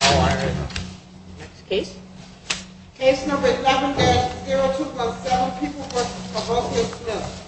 Case number 11-02 plus 7, People v. Cavocchio-Smith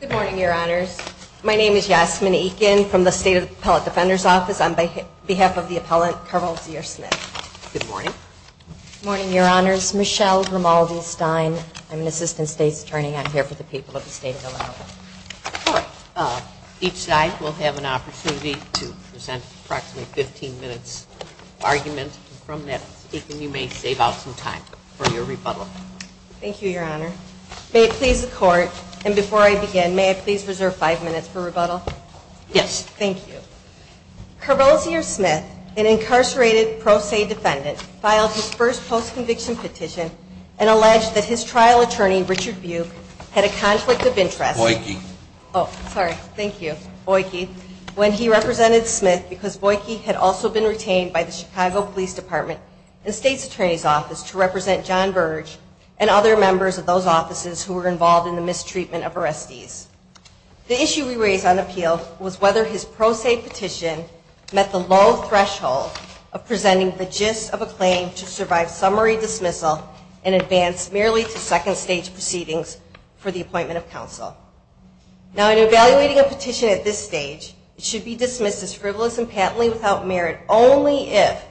Good morning, Your Honors. My name is Yasmin Ekin from the State Appellate Defender's Office. On behalf of the appellant, Carol Zier-Smith. Good morning. Good morning, Your Honors. Michelle Romaldi-Stein. I'm an Assistant State's Attorney. I'm here for the people of the State of Illinois. Each side will have an opportunity to present approximately 15 minutes of argument. From that speaking, you may save out some time for your rebuttal. Thank you, Your Honor. May it please the Court, and before I begin, may I please reserve five minutes for rebuttal? Yes. Thank you. Carol Zier-Smith, an incarcerated pro se defendant, filed his first post-conviction petition and alleged that his trial attorney, Richard Buick, had a conflict of interest. Richard Buick. Oh, sorry. Thank you, Buick. When he represented Smith because Buick had also been retained by the Chicago Police Department and State's Attorney's Office to represent John Burge and other members of those offices who were involved in the mistreatment of arrestees. The issue we raised on appeal was whether his pro se petition met the low threshold of Now, in evaluating a petition at this stage, it should be dismissed as frivolous and patently without merit only if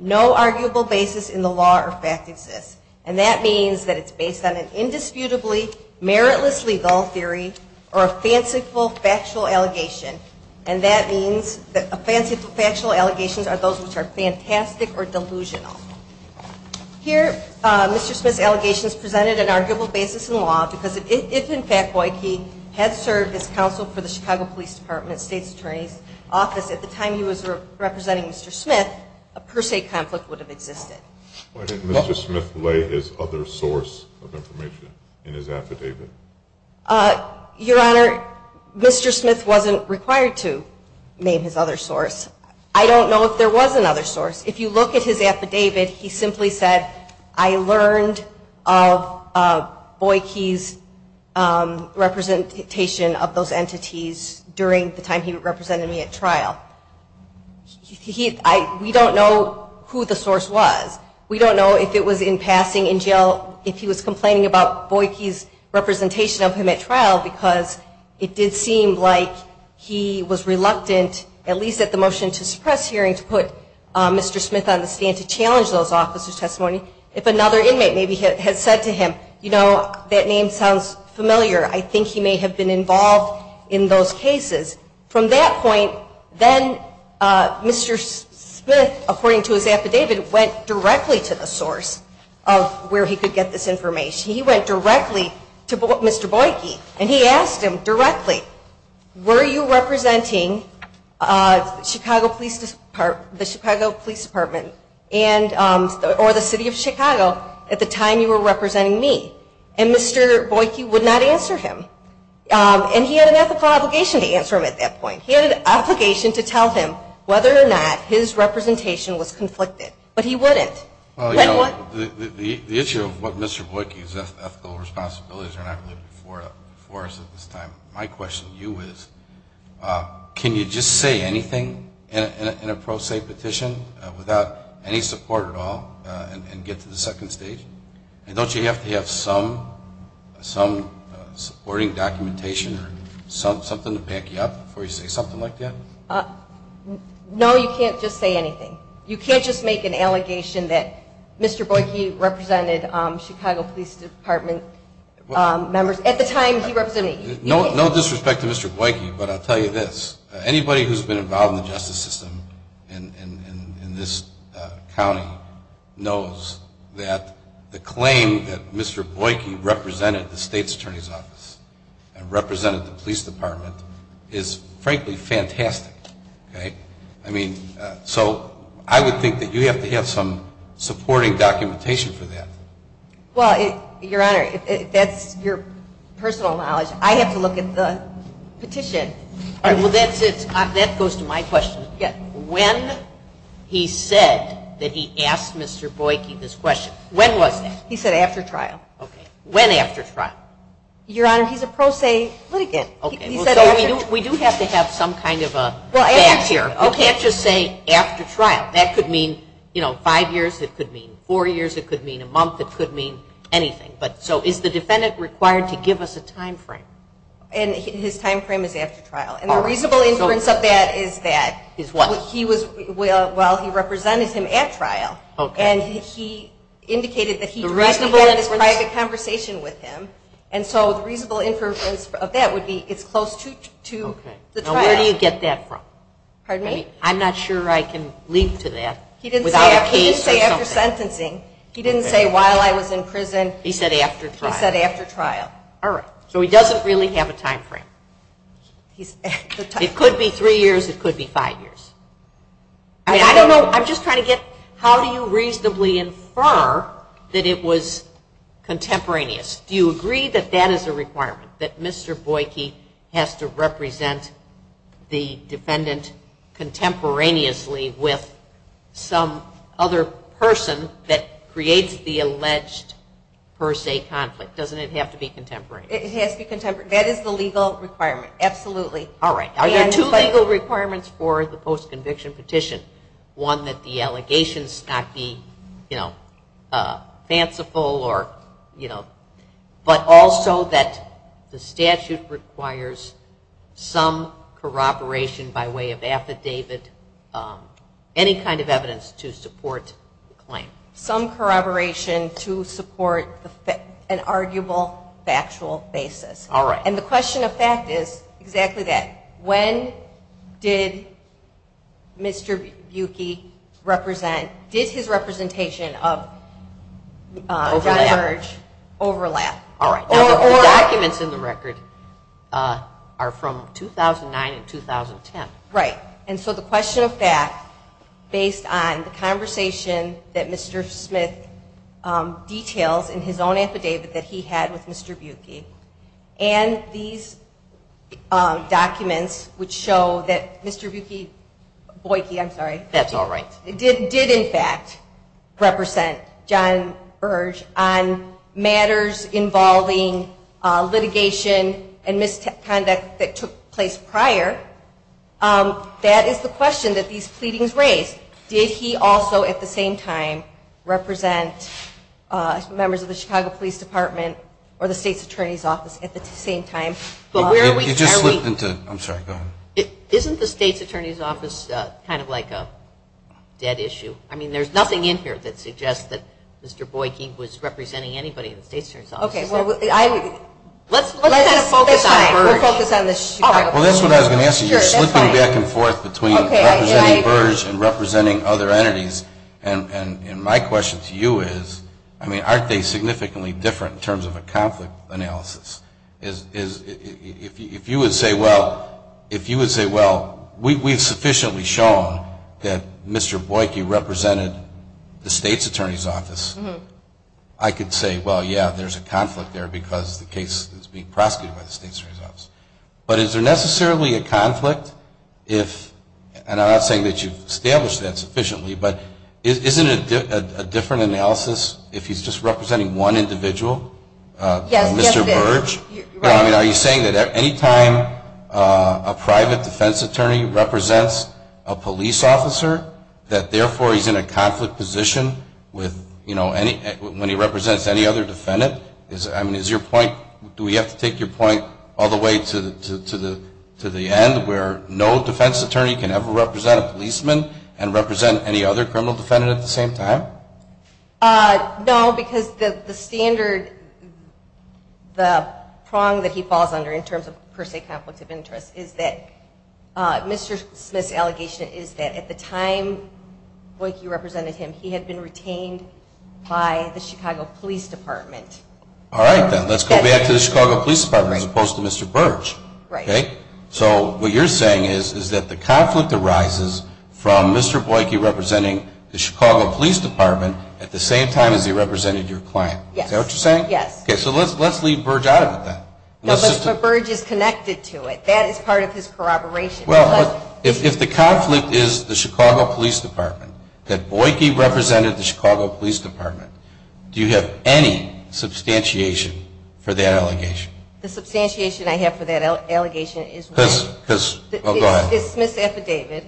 no arguable basis in the law or fact exists. And that means that it's based on an indisputably, meritless legal theory or a fanciful factual allegation. And that means that fanciful factual allegations are those which are fantastic or delusional. Here, Mr. Smith's allegations presented an arguable basis in law because if, in fact, Buick had served as counsel for the Chicago Police Department State's Attorney's Office at the time he was representing Mr. Smith, a per se conflict would have existed. Why didn't Mr. Smith lay his other source of information in his affidavit? Your Honor, Mr. Smith wasn't required to name his other source. I don't know if there was another source. If you look at his affidavit, he simply said, I learned of We don't know who the source was. We don't know if it was in passing in jail, if he was complaining about Buick's representation of him at trial because it did seem like he was reluctant, at least at the motion to suppress hearing, to put Mr. Smith on the stand to challenge those officers' testimony. If another inmate maybe had said to him, you know, that name sounds familiar. I think he may have been involved in those cases. From that point, then Mr. Smith, according to his affidavit, went directly to the source of where he could get this information. He went directly to Mr. Buick and he asked him directly, were you me? And Mr. Buick would not answer him. And he had an ethical obligation to answer him at that point. He had an obligation to tell him whether or not his representation was conflicted. But he wouldn't. Well, you know, the issue of what Mr. Buick's ethical responsibilities are, and I believe before us at this time, my question to you is, can you just say anything in a pro se petition without any support at all and get to the second stage? And don't you have to have some supporting documentation or something to back you up before you say something like that? No, you can't just say anything. You can't just make an allegation that Mr. Buick, he represented Chicago Police Department members at the time he Anybody who's been involved in the justice system in this county knows that the claim that Mr. Buick represented the state's attorney's office and represented the police department is frankly fantastic. Okay? I mean, so I would think that you have to have some supporting documentation for that. Well, Your Honor, that's your personal knowledge. I have to look at the petition. All right. Well, that goes to my question. When he said that he asked Mr. Buick this question, when was that? He said after trial. Okay. When after trial? Your Honor, he's a pro se litigant. Okay. So we do have to have some kind of a fact here. You can't just say after trial. That could mean, you know, five years. It could mean four years. It could mean a month. It could mean anything. So is the defendant required to give us a time frame? And his time frame is after trial. And the reasonable inference of that is that he was, well, he represented him at trial. Okay. And he indicated that he directly had a private conversation with him. And so the reasonable inference of that would be it's close to the trial. Okay. Now where do you get that from? Pardon me? I'm not sure I can leap to that without a case or something. He didn't say while I was in prison. He said after trial. He said after trial. All right. So he doesn't really have a time frame. It could be three years. It could be five years. I mean, I don't know. I'm just trying to get how do you reasonably infer that it was contemporaneous? Do you agree that that is a requirement? That Mr. Boyke has to represent the defendant contemporaneously with some other person that creates the alleged per se conflict? Doesn't it have to be contemporaneous? It has to be contemporaneous. That is the legal requirement. Absolutely. All right. Are there two legal requirements for the post-conviction petition? One, that the allegations not be, you know, fanciful or, you know, but also that the statute requires some corroboration by way of affidavit, any kind of evidence to support the claim? Some corroboration to support an arguable factual basis. All right. And the question of fact is exactly that. When did Mr. Bukey represent, did his representation of John Eberge overlap? All right. Now, the documents in the record are from 2009 and 2010. Right. And so the question of fact, based on the conversation that Mr. Smith details in his own affidavit that he had with Mr. Bukey and these documents which show that Mr. Bukey, Boyke, I'm sorry. That's all right. did in fact represent John Eberge on matters involving litigation and misconduct that took place prior, that is the question that these pleadings raise. Did he also at the same time represent members of the Chicago Police Department or the State's Attorney's Office at the same time? You just slipped into, I'm sorry, go ahead. Isn't the State's Attorney's Office kind of like a dead issue? I mean, there's nothing in here that suggests that Mr. Bukey was representing anybody in the State's Attorney's Office. Okay. Well, I. Let's kind of focus on Eberge. We'll focus on the Chicago Police Department. Well, that's what I was going to ask you. You're slipping back and forth between representing Eberge and representing other entities. And my question to you is, I mean, aren't they significantly different in terms of a conflict analysis? If you would say, well, if you would say, well, we've sufficiently shown that Mr. Bukey represented the State's Attorney's Office, I could say, well, yeah, there's a conflict there because the case is being prosecuted by the State's Attorney's Office. But is there necessarily a conflict if, and I'm not saying that you've established that sufficiently, but isn't it a different analysis if he's just representing one individual? Yes, yes it is. Mr. Berge? Right. I mean, are you saying that any time a private defense attorney represents a police officer, that therefore he's in a conflict position with, you know, any, when he represents any other defendant? I mean, is your point, do we have to take your point all the way to the end where no defense attorney can ever represent a policeman and represent any other criminal defendant at the same time? No, because the standard, the prong that he falls under in terms of per se conflict of interest is that Mr. Smith's allegation is that at the time Bukey represented him, he had been retained by the Chicago Police Department. All right, then. Let's go back to the Chicago Police Department as opposed to Mr. Berge. Right. Okay? So what you're saying is that the conflict arises from Mr. Bukey representing the Chicago Police Department at the same time as he represented your client. Yes. Is that what you're saying? Yes. Okay, so let's leave Berge out of it then. No, but Berge is connected to it. That is part of his corroboration. Well, if the conflict is the Chicago Police Department, that Bukey represented the Chicago Police Department, do you have any substantiation for that allegation? The substantiation I have for that allegation is Smith's affidavit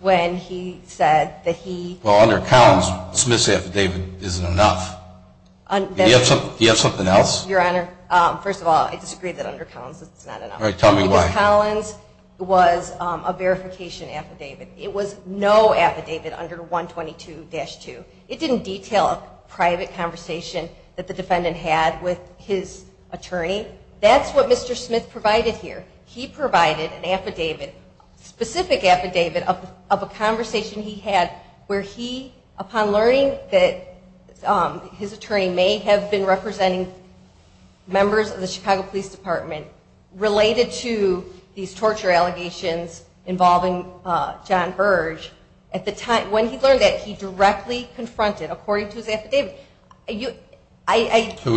when he said that he... Well, under Collins, Smith's affidavit isn't enough. Do you have something else? Your Honor, first of all, I disagree that under Collins it's not enough. All right, tell me why. Because Collins was a verification affidavit. It was no affidavit under 122-2. It didn't detail a private conversation that the defendant had with his attorney. That's what Mr. Smith provided here. He provided an affidavit, a specific affidavit of a conversation he had where he, upon learning that his attorney may have been representing members of the What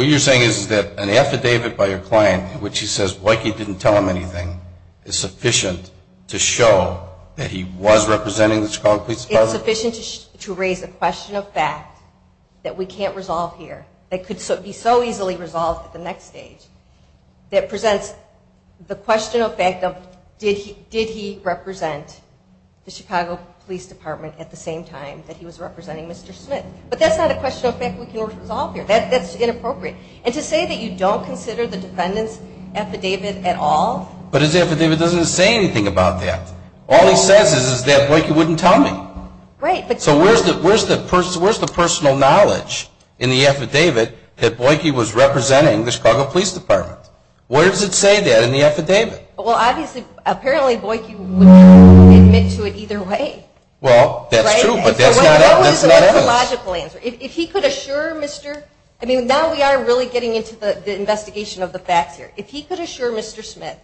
you're saying is that an affidavit by your client in which he says Bukey didn't tell him anything is sufficient to show that he was representing the Chicago Police Department? It's sufficient to raise a question of fact that we can't resolve here, that could be so easily resolved at the next stage. That presents the question of fact of did he represent the Chicago Police Department at the same time that he was representing Mr. Smith? But that's not a question of fact we can't resolve here. That's inappropriate. And to say that you don't consider the defendant's affidavit at all... But his affidavit doesn't say anything about that. All he says is that Bukey wouldn't tell me. Right, but... Where does it say that in the affidavit? Well, obviously, apparently Bukey wouldn't admit to it either way. Well, that's true, but that's not evidence. If he could assure Mr. I mean, now we are really getting into the investigation of the facts here. If he could assure Mr. Smith,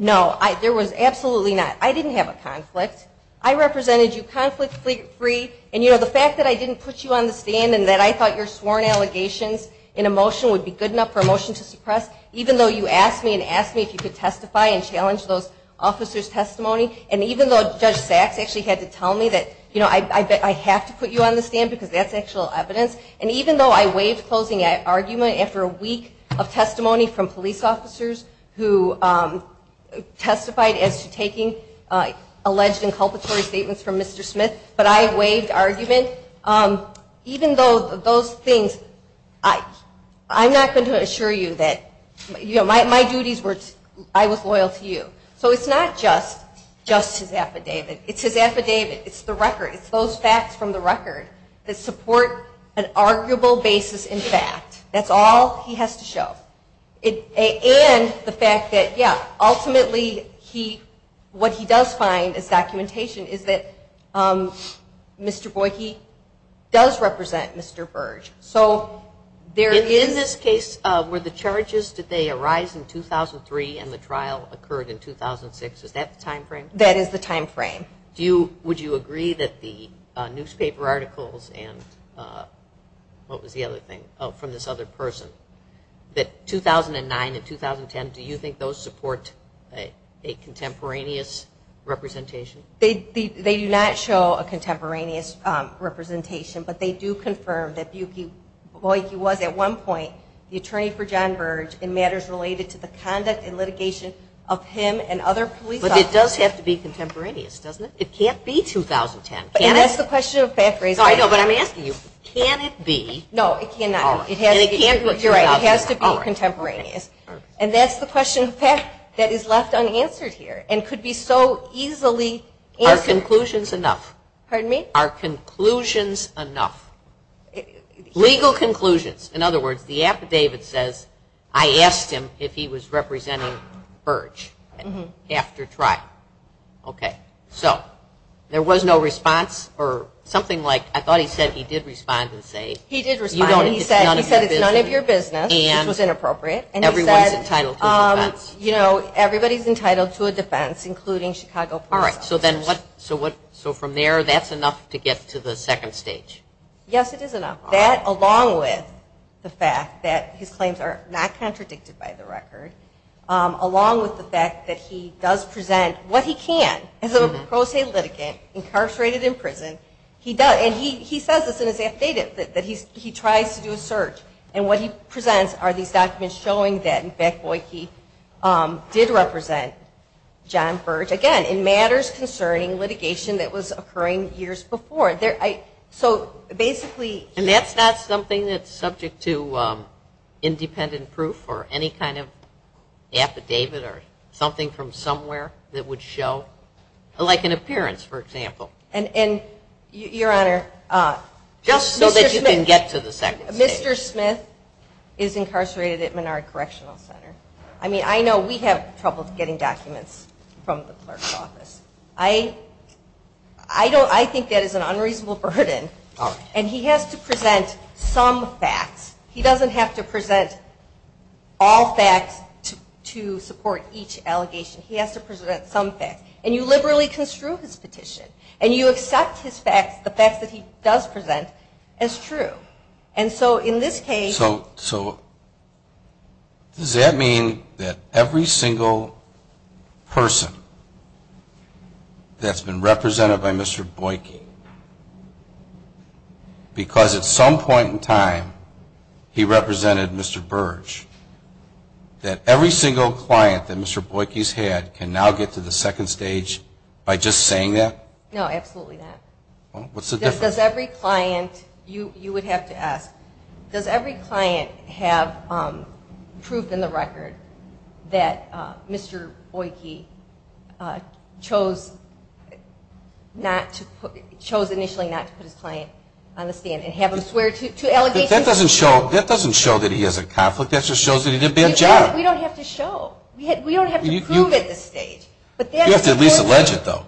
no, there was absolutely not. I didn't have a conflict. I represented you conflict-free. And the fact that I didn't put you on the stand and that I thought your sworn allegations in a motion would be good enough for a motion to suppress, even though you asked me and asked me if you could testify and challenge those officers' testimony, and even though Judge Sachs actually had to tell me that I have to put you on the stand because that's actual evidence, and even though I waived closing argument after a week of testimony from police officers who testified as to taking alleged inculpatory statements from Mr. Smith, but I waived argument, even though those things, I'm not going to assure you that my duties were, I was loyal to you. So it's not just his affidavit. It's his affidavit. It's the record. It's those facts from the record that support an arguable basis in fact. That's all he has to show. And the fact that, yeah, ultimately what he does find as documentation is that Mr. Boyke does represent Mr. Burge. In this case, were the charges, did they arise in 2003 and the trial occurred in 2006? Is that the time frame? That is the time frame. Would you agree that the newspaper articles and what was the other thing, from this other person, that 2009 and 2010, do you think those support a contemporaneous representation? They do not show a contemporaneous representation, but they do confirm that Boyke was at one point the attorney for John Burge in matters related to the conduct and litigation of him and other police officers. But it does have to be contemporaneous, doesn't it? It can't be 2010, can it? And that's the question that Pat raised. I know, but I'm asking you, can it be? No, it cannot. And it can't be 2010. You're right. It has to be contemporaneous. And that's the question, Pat, that is left unanswered here and could be so easily answered. Are conclusions enough? Pardon me? Are conclusions enough? Legal conclusions. In other words, the affidavit says, I asked him if he was representing Burge after trial. Okay. So there was no response or something like, I thought he said he did respond and say. He did respond. He said it's none of your business, which was inappropriate. And everyone's entitled to a defense. You know, everybody's entitled to a defense, including Chicago police officers. All right. So from there, that's enough to get to the second stage? Yes, it is enough. That, along with the fact that his claims are not contradicted by the record, along with the fact that he does present what he can as a pro se litigant incarcerated in prison, and he says this in his affidavit that he tries to do a search, and what he presents are these documents showing that, in fact, Boyd Keith did represent John Burge, again, in matters concerning litigation that was occurring years before. So basically. And that's not something that's subject to independent proof or any kind of affidavit or something from somewhere that would show, like an appearance, for example. And, Your Honor. Just so that you can get to the second stage. Mr. Smith is incarcerated at Menard Correctional Center. I mean, I know we have trouble getting documents from the clerk's office. I think that is an unreasonable burden, and he has to present some facts. He doesn't have to present all facts to support each allegation. He has to present some facts. And you liberally construe his petition, and you accept his facts, the facts that he does present, as true. And so in this case. So does that mean that every single person that's been represented by Mr. Boyd Keith, because at some point in time he represented Mr. Burge, that every single client that Mr. Boyd Keith's had can now get to the second stage by just saying that? No, absolutely not. Well, what's the difference? Does every client, you would have to ask, does every client have proof in the record that Mr. Boyd Keith chose not to put, chose initially not to put his client on the stand and have him swear to allegations? That doesn't show that he has a conflict. That just shows that he did a bad job. We don't have to show. We don't have to prove at this stage. You have to at least allege it, though.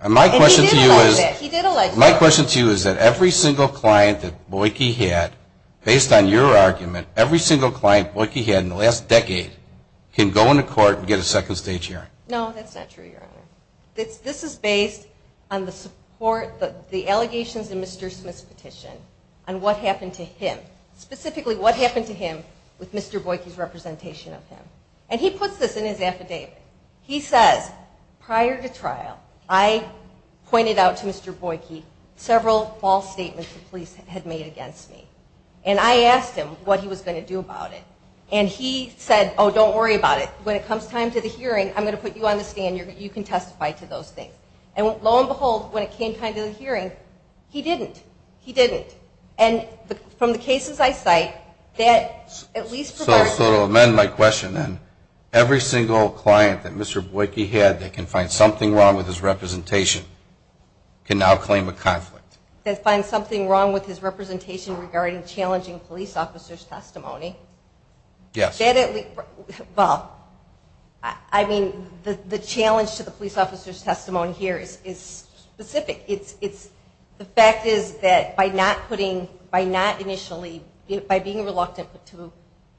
And he did allege that. He did allege that. My question to you is that every single client that Boyd Keith had, based on your argument, every single client Boyd Keith had in the last decade can go into court and get a second stage hearing? No, that's not true, Your Honor. This is based on the support, the allegations in Mr. Smith's petition, on what happened to him, specifically what happened to him with Mr. Boyd Keith's representation of him. And he puts this in his affidavit. He says, prior to trial, I pointed out to Mr. Boyd Keith several false statements the police had made against me. And I asked him what he was going to do about it. And he said, oh, don't worry about it. When it comes time to the hearing, I'm going to put you on the stand. You can testify to those things. And lo and behold, when it came time to the hearing, he didn't. He didn't. And from the cases I cite, that at least provides you with. I would also amend my question, then. Every single client that Mr. Boyd Keith had that can find something wrong with his representation can now claim a conflict. That finds something wrong with his representation regarding challenging police officers' testimony? Yes. Well, I mean, the challenge to the police officers' testimony here is specific. The fact is that by being reluctant to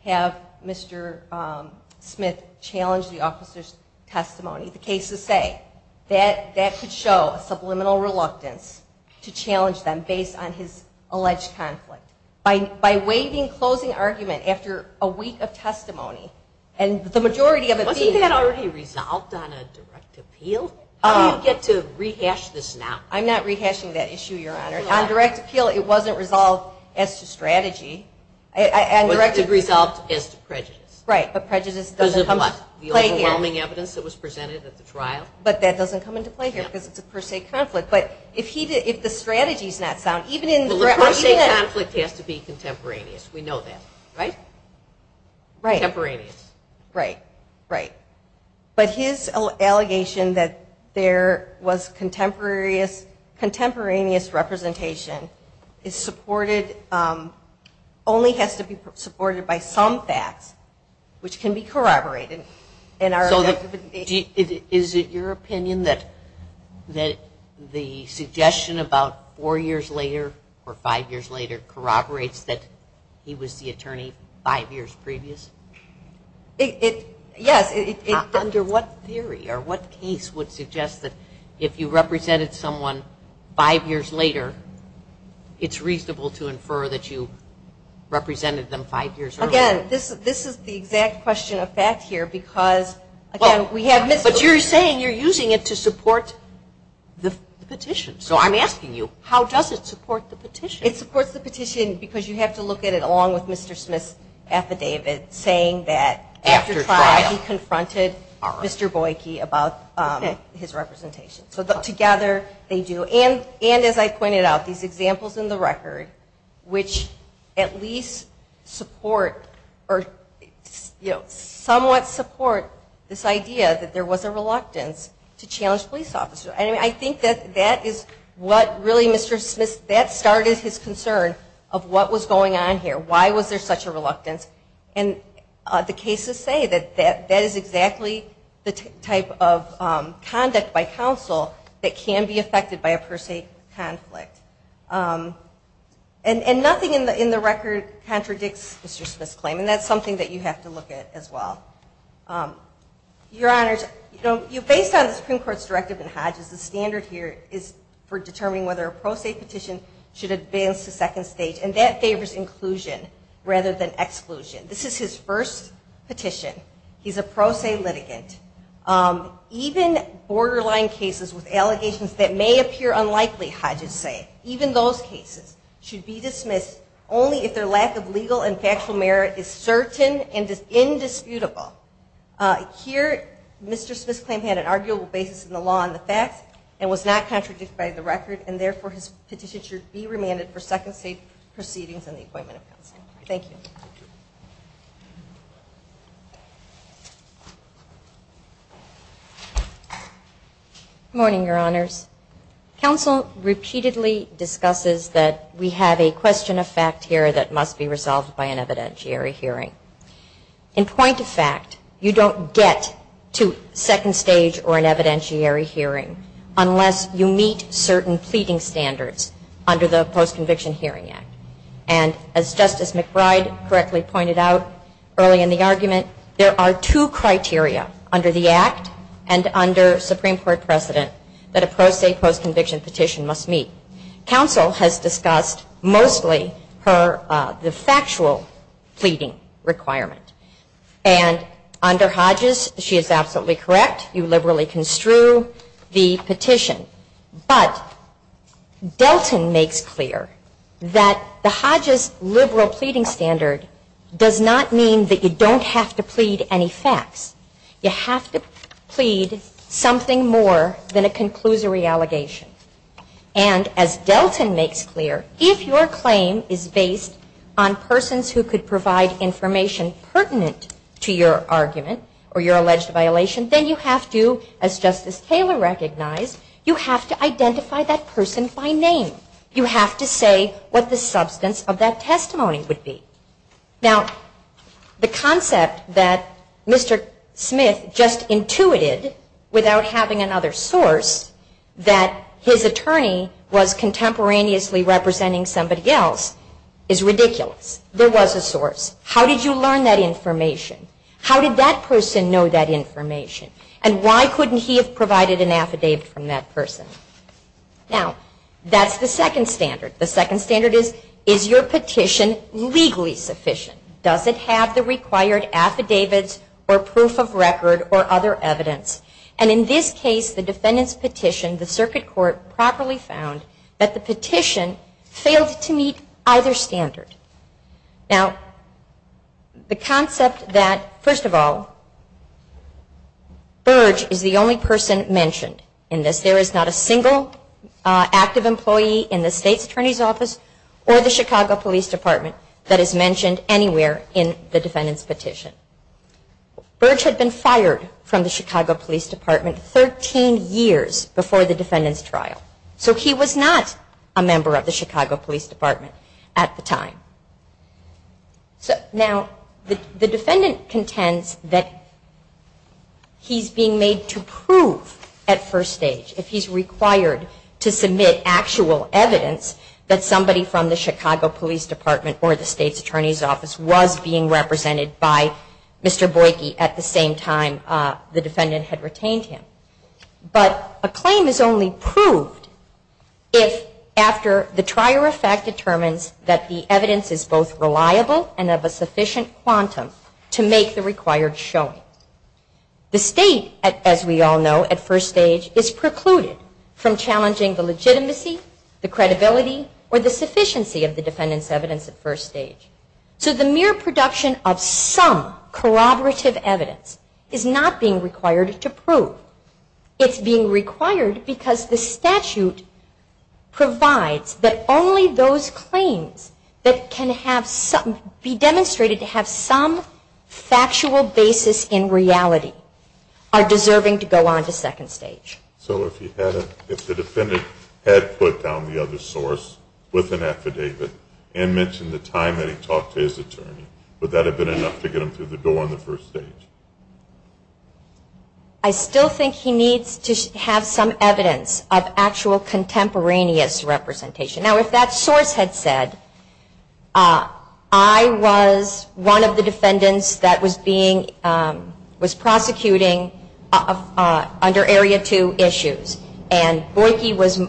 have Mr. Smith challenge the officers' testimony, the cases say that that could show a subliminal reluctance to challenge them based on his alleged conflict. By waiving closing argument after a week of testimony, and the majority of it being- Wasn't that already resolved on a direct appeal? How do you get to rehash this now? I'm not rehashing that issue, Your Honor. On direct appeal, it wasn't resolved as to strategy. It was resolved as to prejudice. Right, but prejudice doesn't come into play here. Because of what? The overwhelming evidence that was presented at the trial? But that doesn't come into play here because it's a per se conflict. But if the strategy's not sound, even in the- Well, the per se conflict has to be contemporaneous. We know that. Right? Right. Contemporaneous. Right. Right. But his allegation that there was contemporaneous representation is supported-only has to be supported by some facts, which can be corroborated. Is it your opinion that the suggestion about four years later or five years later corroborates that he was the attorney five years previous? Yes. Under what theory or what case would suggest that if you represented someone five years later, it's reasonable to infer that you represented them five years earlier? Again, this is the exact question of fact here because, again, we have- But you're saying you're using it to support the petition. So I'm asking you, how does it support the petition? It supports the petition because you have to look at it along with Mr. Smith's affidavit saying that after trial he confronted Mr. Boyke about his representation. So together they do. And, as I pointed out, these examples in the record, which at least support or, you know, somewhat support this idea that there was a reluctance to challenge police officers. I think that that is what really Mr. Smith-that started his concern of what was going on here. Why was there such a reluctance? And the cases say that that is exactly the type of conduct by counsel that can be affected by a pro se conflict. And nothing in the record contradicts Mr. Smith's claim, and that's something that you have to look at as well. Your Honors, based on the Supreme Court's directive in Hodges, the standard here is for determining whether a pro se petition should advance to second stage. And that favors inclusion rather than exclusion. This is his first petition. He's a pro se litigant. Even borderline cases with allegations that may appear unlikely, Hodges say, even those cases, should be dismissed only if their lack of legal and factual merit is certain and is indisputable. Here Mr. Smith's claim had an arguable basis in the law and the facts and was not contradicted by the record, and therefore his petition should be remanded for second stage proceedings and the appointment of counsel. Thank you. Good morning, Your Honors. Counsel repeatedly discusses that we have a question of fact here that must be resolved by an evidentiary hearing. In point of fact, you don't get to second stage or an evidentiary hearing unless you meet certain pleading standards under the Post-Conviction Hearing Act. And as Justice McBride correctly pointed out early in the argument, there are two criteria under the Act and under Supreme Court precedent that a pro se post-conviction petition must meet. Counsel has discussed mostly the factual pleading requirement. And under Hodges, she is absolutely correct. You liberally construe the petition. But Delton makes clear that the Hodges liberal pleading standard does not mean that you don't have to plead any facts. You have to plead something more than a conclusory allegation. And as Delton makes clear, if your claim is based on persons who could provide information pertinent to your argument or your alleged violation, then you have to, as Justice Taylor recognized, you have to identify that person by name. You have to say what the substance of that testimony would be. Now, the concept that Mr. Smith just intuited without having another source that his attorney was contemporaneously representing somebody else is ridiculous. There was a source. How did you learn that information? How did that person know that information? And why couldn't he have provided an affidavit from that person? Now, that's the second standard. The second standard is, is your petition legally sufficient? Does it have the required affidavits or proof of record or other evidence? And in this case, the defendant's petition, the circuit court, properly found that the petition failed to meet either standard. Now, the concept that, first of all, Burge is the only person mentioned in this. There is not a single active employee in the State's Attorney's Office or the Chicago Police Department that is mentioned anywhere in the defendant's petition. Burge had been fired from the Chicago Police Department 13 years before the defendant's trial. So he was not a member of the Chicago Police Department at the time. Now, the defendant contends that he's being made to prove at first stage, if he's required to submit actual evidence, that somebody from the Chicago Police Department or the State's Attorney's Office was being represented by Mr. Boyke at the same time the defendant had retained him. But a claim is only proved if, after the trier of fact determines that the evidence is both reliable and of a sufficient quantum to make the required showing. The State, as we all know, at first stage, is precluded from challenging the legitimacy, the credibility, or the sufficiency of the defendant's evidence at first stage. So the mere production of some corroborative evidence is not being required to prove. It's being required because the statute provides that only those claims that can be demonstrated to have some factual basis in reality are deserving to go on to second stage. So if the defendant had put down the other source with an affidavit and mentioned the time that he talked to his attorney, would that have been enough to get him through the door on the first stage? I still think he needs to have some evidence of actual contemporaneous representation. Now, if that source had said, I was one of the defendants that was being, was prosecuting under Area 2 issues and Boyke was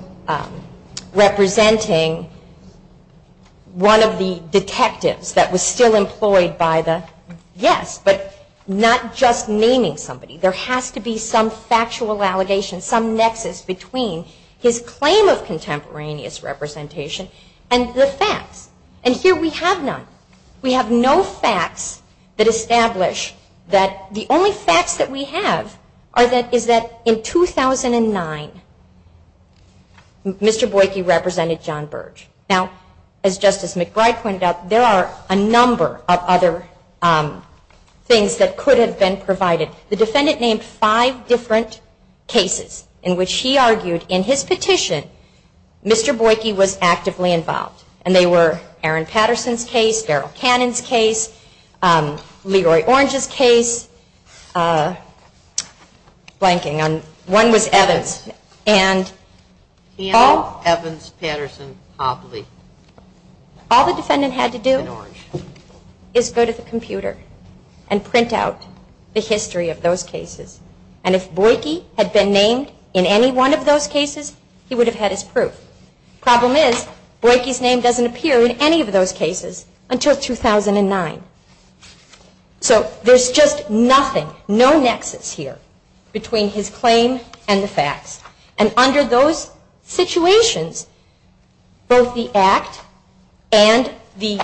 representing one of the Yes, but not just naming somebody. There has to be some factual allegation, some nexus between his claim of contemporaneous representation and the facts. And here we have none. We have no facts that establish that the only facts that we have are that, is that in 2009, Mr. Boyke represented John Birch. Now, as Justice McBride pointed out, there are a number of other things that could have been provided. The defendant named five different cases in which he argued in his petition, Mr. Boyke was actively involved. And they were Aaron Patterson's case, Daryl Cannon's case, Leroy Orange's case, blanking on, one was Evans. All the defendant had to do is go to the computer and print out the history of those cases. And if Boyke had been named in any one of those cases, he would have had his proof. Problem is, Boyke's name doesn't appear in any of those cases until 2009. So there's just nothing, no nexus here between his claim and the facts. And under those situations, both the act and the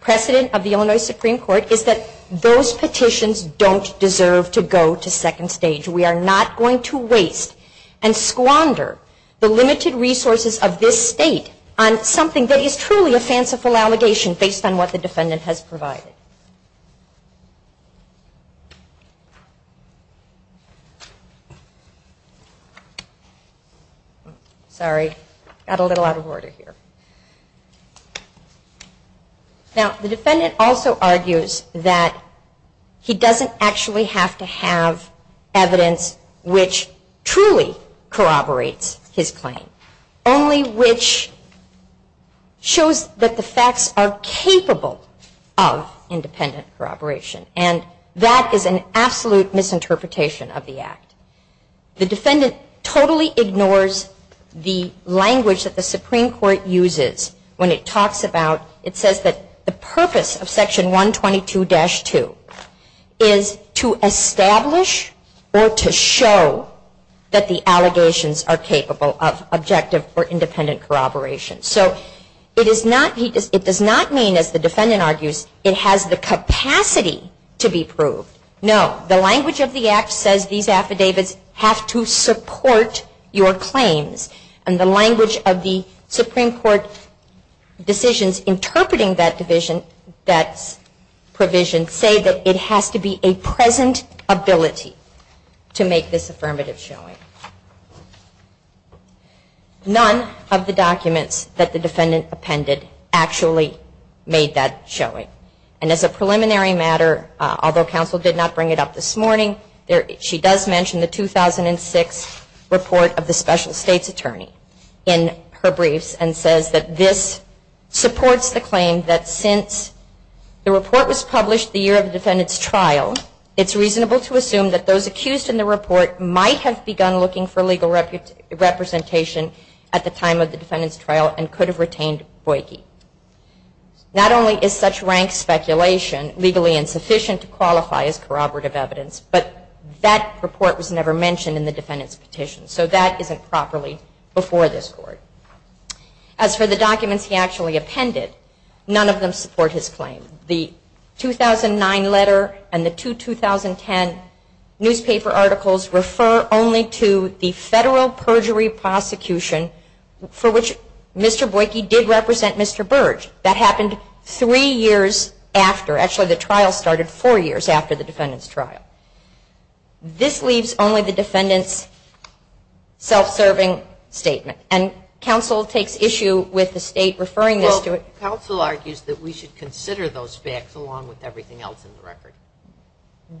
precedent of the Illinois Supreme Court is that those petitions don't deserve to go to second stage. We are not going to waste and squander the limited resources of this state on something that is truly a fanciful allegation based on what the defendant has provided. Sorry, got a little out of order here. Now, the defendant also argues that he doesn't actually have to have evidence which truly corroborates his claim, only which shows that the facts are capable of independent corroboration. And that is an absolute misinterpretation of the act. The defendant totally ignores the language that the Supreme Court uses when it talks about, it says that the purpose of section 122-2 is to establish or to show that the allegations are capable of objective or independent corroboration. So it does not mean, as the defendant argues, it has the capacity to be proved. No, the language of the act says these affidavits have to support your claims and the language of the Supreme Court decisions interpreting that provision say that it has to be a present ability to make this affirmative showing. None of the documents that the defendant appended actually made that showing. And as a preliminary matter, although counsel did not bring it up this morning, she does mention the 2006 report of the special state's attorney in her briefs and says that this supports the claim that since the report was published the year of the defendant's trial, it's reasonable to assume that those accused in the report might have begun looking for legal representation at the time of the defendant's trial and could have retained Boyke. Not only is such rank speculation legally insufficient to qualify as corroborative evidence, but that report was never mentioned in the defendant's petition. So that isn't properly before this Court. As for the documents he actually appended, none of them support his claim. The 2009 letter and the two 2010 newspaper articles refer only to the federal That happened three years after. Actually, the trial started four years after the defendant's trial. This leaves only the defendant's self-serving statement. And counsel takes issue with the state referring this to it. Counsel argues that we should consider those facts along with everything else in the record.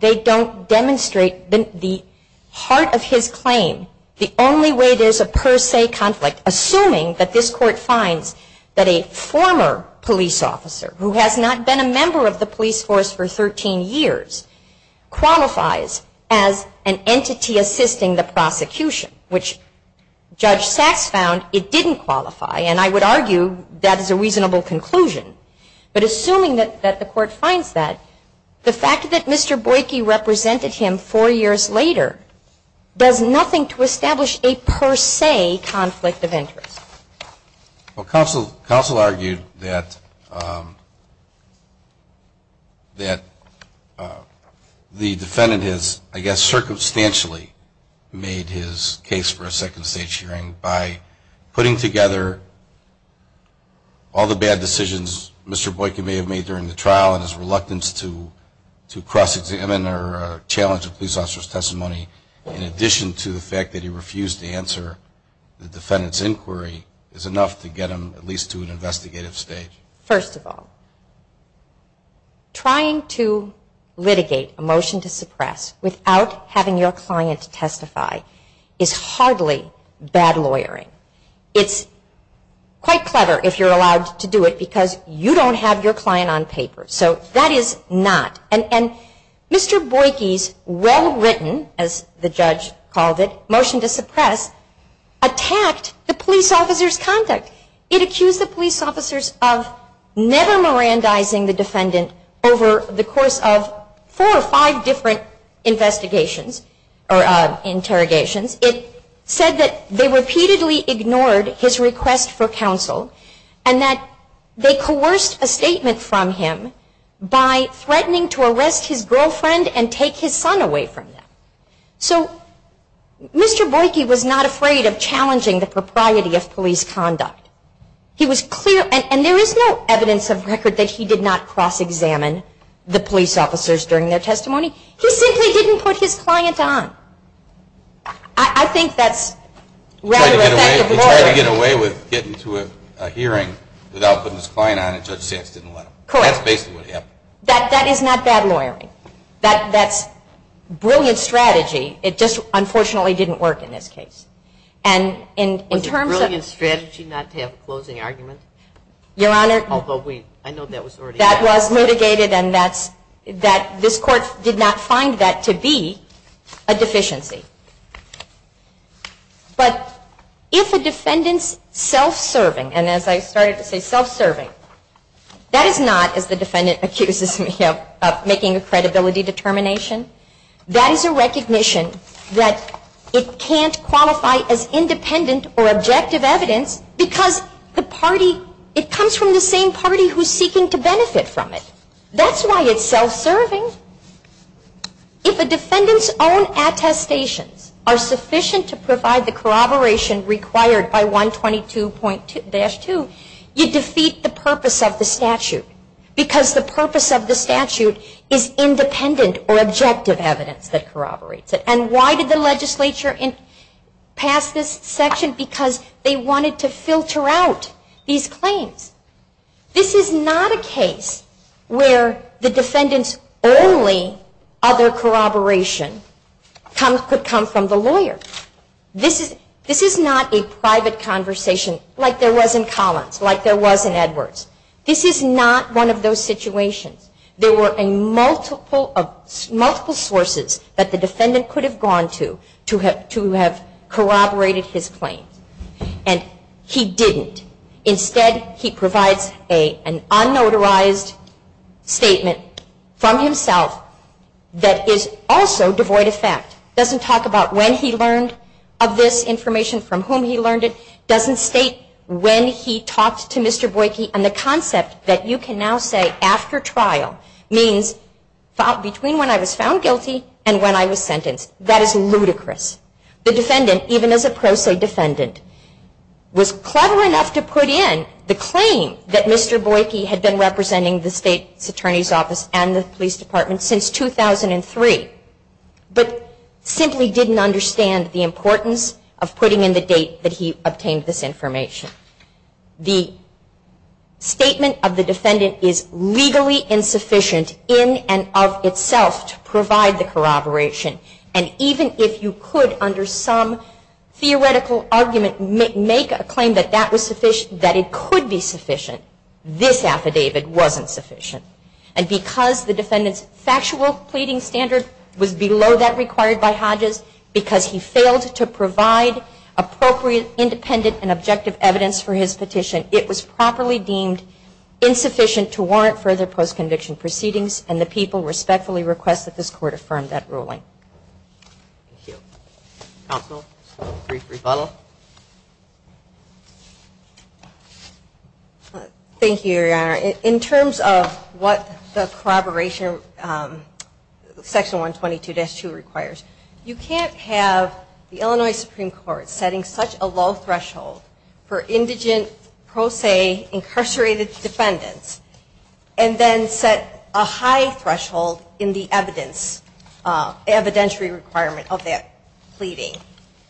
They don't demonstrate the heart of his claim. The only way there's a per se conflict, assuming that this Court finds that a former police officer, who has not been a member of the police force for 13 years, qualifies as an entity assisting the prosecution, which Judge Sachs found it didn't qualify. And I would argue that is a reasonable conclusion. But assuming that the Court finds that, the fact that Mr. Boyke represented him four years later does nothing to Well, counsel argued that the defendant has, I guess, circumstantially made his case for a second state hearing by putting together all the bad decisions Mr. Boyke may have made during the trial and his reluctance to cross-examine or challenge a police officer's testimony in addition to the fact that he refused to answer the defendant's inquiry is enough to get him at least to an investigative stage. First of all, trying to litigate a motion to suppress without having your client testify is hardly bad lawyering. It's quite clever if you're allowed to do it because you don't have your client on paper. So that is not. And Mr. Boyke's well-written, as the judge called it, motion to suppress attacked the police officer's conduct. It accused the police officers of never mirandizing the defendant over the course of four or five different investigations or interrogations. It said that they repeatedly ignored his request for counsel and that they threatened to arrest his girlfriend and take his son away from him. So Mr. Boyke was not afraid of challenging the propriety of police conduct. He was clear. And there is no evidence of record that he did not cross-examine the police officers during their testimony. He simply didn't put his client on. I think that's rather effective lawyering. He tried to get away with getting to a hearing without putting his client on and Judge Sands didn't let him. Correct. That's basically what happened. That is not bad lawyering. That's brilliant strategy. It just unfortunately didn't work in this case. Was it brilliant strategy not to have a closing argument? Your Honor, that was mitigated and this court did not find that to be a deficiency. But if a defendant's self-serving, and as I started to say self-serving, that is not, as the defendant accuses me of making a credibility determination, that is a recognition that it can't qualify as independent or objective evidence because the party, it comes from the same party who is seeking to benefit from it. That's why it's self-serving. If a defendant's own attestations are sufficient to provide the corroboration required by 122-2, you defeat the purpose of the statute because the purpose of the statute is independent or objective evidence that corroborates it. And why did the legislature pass this section? Because they wanted to filter out these claims. This is not a case where the defendant's only other corroboration could come from the lawyer. This is not a private conversation like there was in Collins, like there was in Edwards. This is not one of those situations. There were multiple sources that the defendant could have gone to to have corroborated his claims. And he didn't. Instead, he provides an unnotarized statement from himself that is also devoid of fact. It doesn't talk about when he learned of this information, from whom he learned it. It doesn't state when he talked to Mr. Boyke. And the concept that you can now say after trial means between when I was found guilty and when I was sentenced. That is ludicrous. The defendant, even as a pro se defendant, was clever enough to put in the claim that Mr. Boyke had been representing the state's attorney's office and the police department since 2003, but simply didn't understand the importance of putting in the date that he obtained this information. The statement of the defendant is legally insufficient in and of itself to provide the corroboration. And even if you could, under some theoretical argument, make a claim that that was sufficient, that it could be sufficient, this affidavit wasn't sufficient. And because the defendant's factual pleading standard was below that required by Hodges, because he failed to provide appropriate independent and objective evidence for his petition, it was properly deemed insufficient to warrant further post-conviction proceedings. And the people respectfully request that this court affirm that ruling. Thank you. Counsel, brief rebuttal. Thank you, Your Honor. In terms of what the corroboration section 122-2 requires, you can't have the Illinois Supreme Court setting such a low threshold for indigent pro se incarcerated defendants and then set a high threshold in the evidence, evidentiary requirement of that pleading.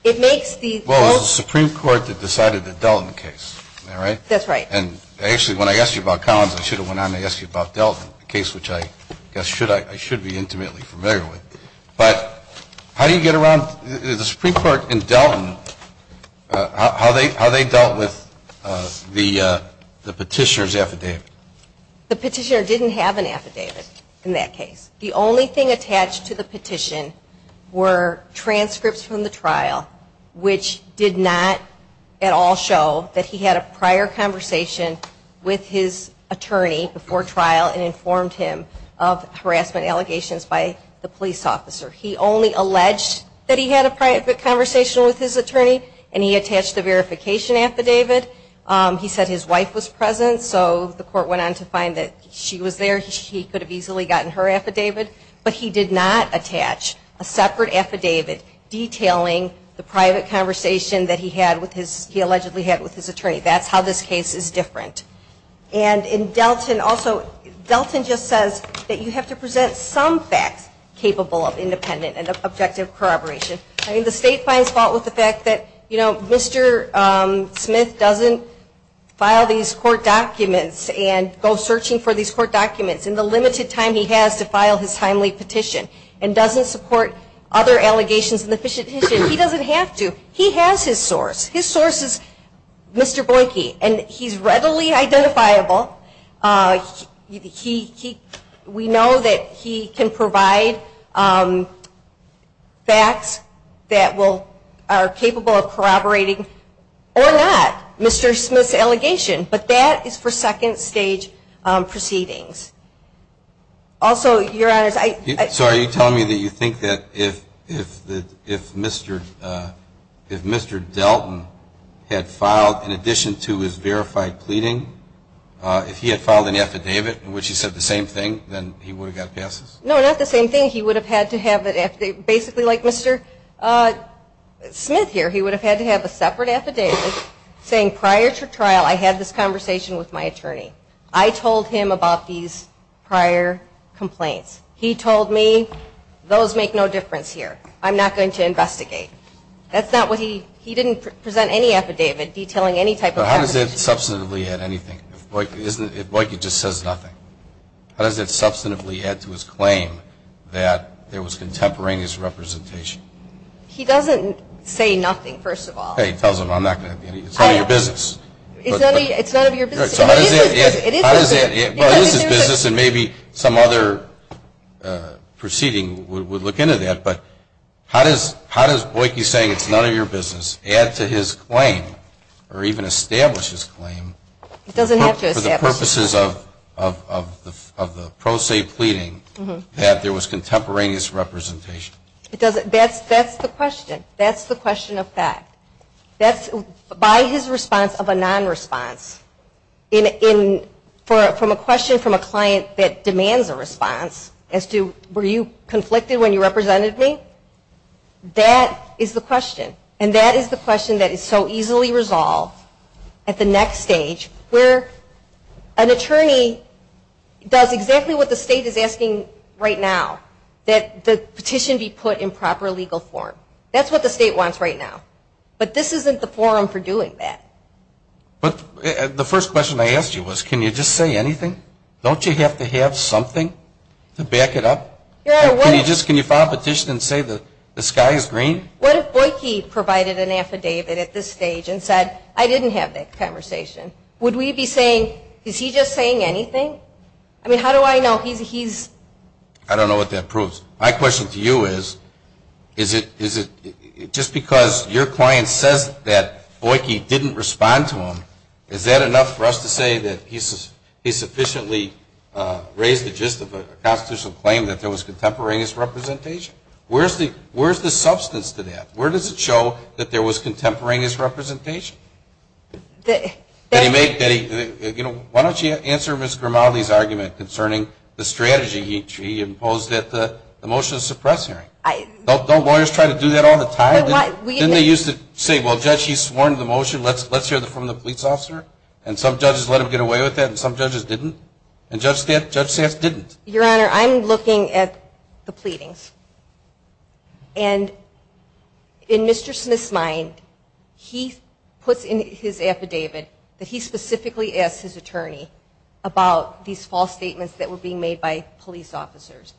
It makes the most – Well, it was the Supreme Court that decided it dealt in the case. Am I right? That's right. And actually, when I asked you about Collins, I should have went on to ask you about Delton, a case which I guess I should be intimately familiar with. But how do you get around – the Supreme Court in Delton, how they dealt with the petitioner's affidavit? The petitioner didn't have an affidavit in that case. The only thing attached to the petition were transcripts from the trial, which did not at all show that he had a prior conversation with his attorney before trial and informed him of harassment allegations by the police officer. He only alleged that he had a private conversation with his attorney and he said his wife was present, so the court went on to find that she was there. He could have easily gotten her affidavit, but he did not attach a separate affidavit detailing the private conversation that he allegedly had with his attorney. That's how this case is different. And in Delton also, Delton just says that you have to present some facts capable of independent and objective corroboration. I mean, the state finds fault with the fact that Mr. Smith doesn't file these court documents and go searching for these court documents in the limited time he has to file his timely petition and doesn't support other allegations in the petition. He doesn't have to. He has his source. His source is Mr. Boyke and he's readily identifiable. We know that he can provide facts that are capable of corroborating or not Mr. Smith's allegation. But that is for second stage proceedings. Also, Your Honors, I So are you telling me that you think that if Mr. Delton had filed in addition to his verified pleading, if he had filed an affidavit in which he said the same thing, then he would have got passes? No, not the same thing. He would have had to have basically like Mr. Smith here, he would have had to have a separate affidavit saying prior to trial I had this conversation with my attorney. I told him about these prior complaints. He told me those make no difference here. I'm not going to investigate. That's not what he he didn't present any affidavit detailing any type of How does it substantively add anything? If Boyke just says nothing? How does it substantively add to his claim that there was contemporaneous representation? He doesn't say nothing, first of all. He tells them it's none of your business. It's none of your business. It is his business. It is his business and maybe some other proceeding would look into that. But how does Boyke saying it's none of your business add to his claim or even establish his claim for the purposes of the pro se pleading that there was contemporaneous representation? That's the question. That's the question of fact. By his response of a non-response, from a question from a client that demands a response as to were you conflicted when you represented me, that is the question. And that is the question that is so easily resolved at the next stage where an attorney does exactly what the state is asking right now, that the petition be put in proper legal form. That's what the state wants right now. But this isn't the forum for doing that. The first question I asked you was can you just say anything? Don't you have to have something to back it up? Can you file a petition and say the sky is green? What if Boyke provided an affidavit at this stage and said I didn't have that conversation? Would we be saying is he just saying anything? I mean, how do I know he's? I don't know what that proves. My question to you is, is it just because your client says that Boyke didn't respond to him, is that enough for us to say that he sufficiently raised the gist of a constitutional claim that there was contemporaneous representation? Where is the substance to that? Where does it show that there was contemporaneous representation? Why don't you answer Ms. Grimaldi's argument concerning the strategy he imposed at the motion to suppress hearing? Don't lawyers try to do that all the time? Didn't they used to say, well, Judge, he's sworn to the motion, let's hear it from the police officer? And some judges let him get away with that and some judges didn't. And Judge Sass didn't. Your Honor, I'm looking at the pleadings. And in Mr. Smith's mind, he puts in his affidavit that he specifically asked his attorney about these false statements that were being made by police officers.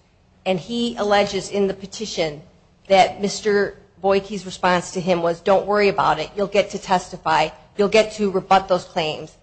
And he alleges in the petition that Mr. Boyke's response to him was don't worry about it. You'll get to testify. You'll get to rebut those claims.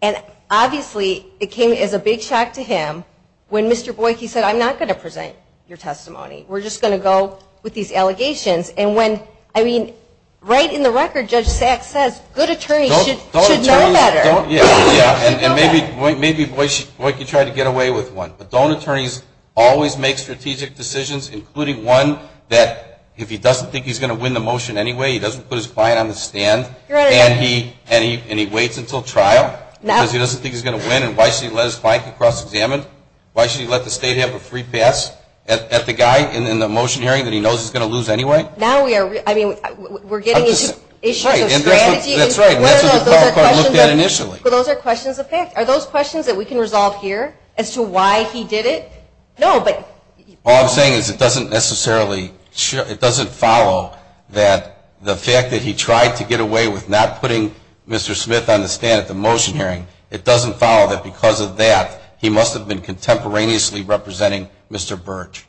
And obviously, it came as a big shock to him when Mr. Boyke said, I'm not going to present your testimony. We're just going to go with these allegations. And when, I mean, right in the record, Judge Sass says good attorneys should know better. Yeah, and maybe Boyke tried to get away with one. But don't attorneys always make strategic decisions, including one that if he doesn't think he's going to win the motion anyway, he doesn't put his client on the stand and he waits until trial because he doesn't think he's going to win. And why should he let his client get cross-examined? Why should he let the state have a free pass at the guy in the motion hearing that he knows he's going to lose anyway? Now we are, I mean, we're getting into issues of strategy. That's right. And that's what the trial court looked at initially. But those are questions of fact. Are those questions that we can resolve here as to why he did it? No, but. All I'm saying is it doesn't necessarily, it doesn't follow that the fact that he tried to get away with not putting Mr. Smith on the stand at the motion hearing, it doesn't follow that because of that, he must have been contemporaneously representing Mr. Birch.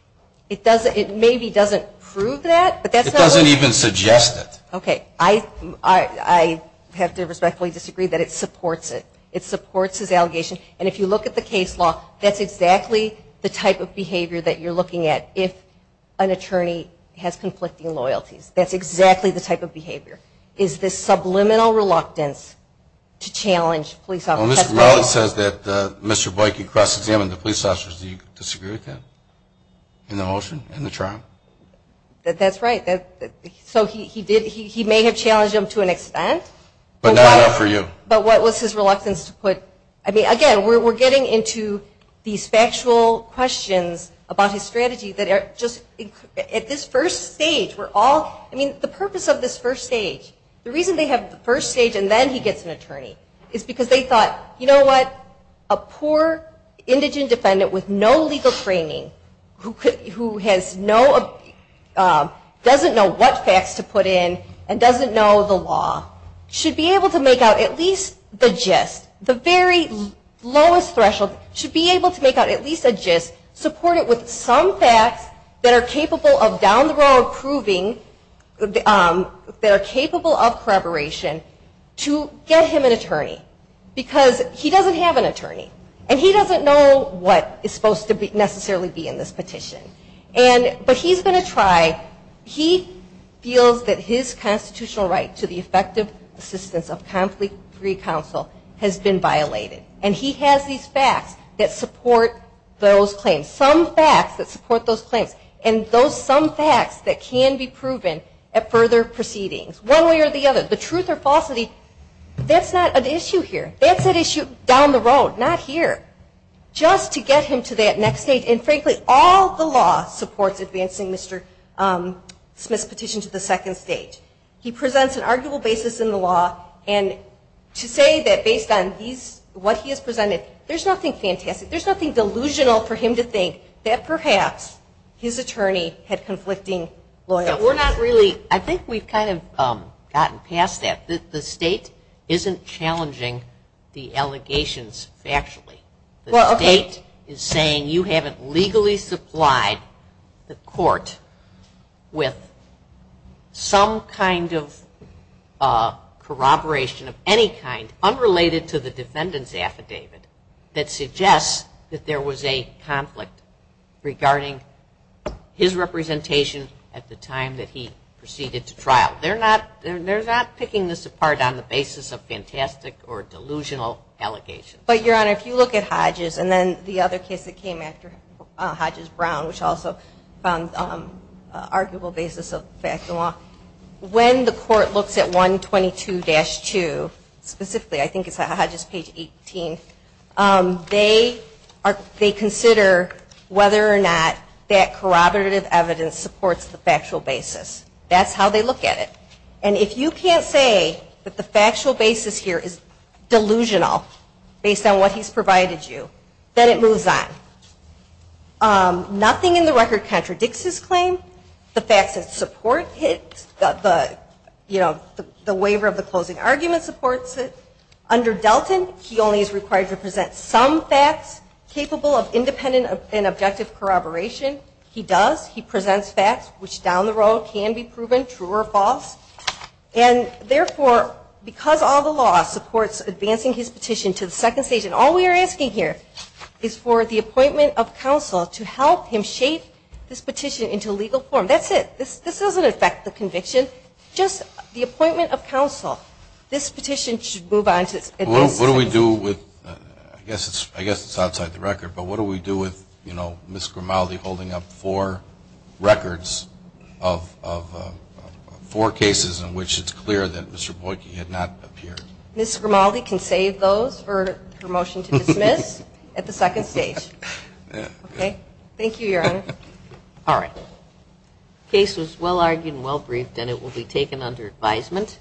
It maybe doesn't prove that, but that's not what. It doesn't even suggest it. Okay. I have to respectfully disagree that it supports it. It supports his allegation. And if you look at the case law, that's exactly the type of behavior that you're looking at if an attorney has conflicting loyalties. That's exactly the type of behavior is this subliminal reluctance to challenge police officers. Well, Mr. Mellon says that Mr. Boykin cross-examined the police officers. Do you disagree with that in the motion and the trial? That's right. So he did, he may have challenged him to an extent. But not enough for you. But what was his reluctance to put, I mean, again, we're getting into these factual questions about his strategy that are just, at this first stage, we're all, I mean, the purpose of this first stage, the reason they have the first stage and then he gets an attorney is because they thought, you know what, a poor indigent defendant with no legal training who has no, doesn't know what facts to put in and doesn't know the law should be able to make out at least the gist, the very lowest threshold, should be able to make out at least a gist supported with some facts that are capable of down the road proving, that are capable of corroboration to get him an attorney. Because he doesn't have an attorney. And he doesn't know what is supposed to necessarily be in this petition. And, but he's going to try, he feels that his constitutional right to the effective assistance of conflict-free counsel has been violated. And he has these facts that support those claims. Some facts that support those claims. And those some facts that can be proven at further proceedings. One way or the other. The truth or falsity, that's not an issue here. That's an issue down the road. Not here. Just to get him to that next stage. And, frankly, all the law supports advancing Mr. Smith's petition to the second stage. He presents an arguable basis in the law. And to say that based on these, what he has presented, there's nothing fantastic. There's nothing delusional for him to think that perhaps his attorney had conflicting loyalty. We're not really, I think we've kind of gotten past that. The state isn't challenging the allegations factually. The state is saying you haven't legally supplied the court with some kind of corroboration of any kind, unrelated to the defendant's affidavit, that suggests that there was a conflict regarding his representation at the time that he proceeded to trial. They're not picking this apart on the basis of fantastic or delusional allegations. But, Your Honor, if you look at Hodges and then the other case that came after Hodges-Brown, which also found arguable basis of facts in law, when the court looks at 122-2, specifically I think it's Hodges page 18, they consider whether or not that corroborative evidence supports the factual basis. That's how they look at it. And if you can't say that the factual basis here is delusional based on what he's provided you, then it moves on. Nothing in the record contradicts his claim. The facts that support it, you know, the waiver of the closing argument supports it. Under Delton, he only is required to present some facts capable of independent and objective corroboration. He does. He presents facts, which down the road can be proven true or false. And, therefore, because all the law supports advancing his petition to the legal forum, that's it. This doesn't affect the conviction. Just the appointment of counsel. This petition should move on. What do we do with, I guess it's outside the record, but what do we do with, you know, Ms. Grimaldi holding up four records of four cases in which it's clear that Mr. Boyke had not appeared? Ms. Grimaldi can save those for her motion to dismiss at the second stage. Okay. Thank you, Your Honor. All right. Case was well argued and well briefed, and it will be taken under advisement.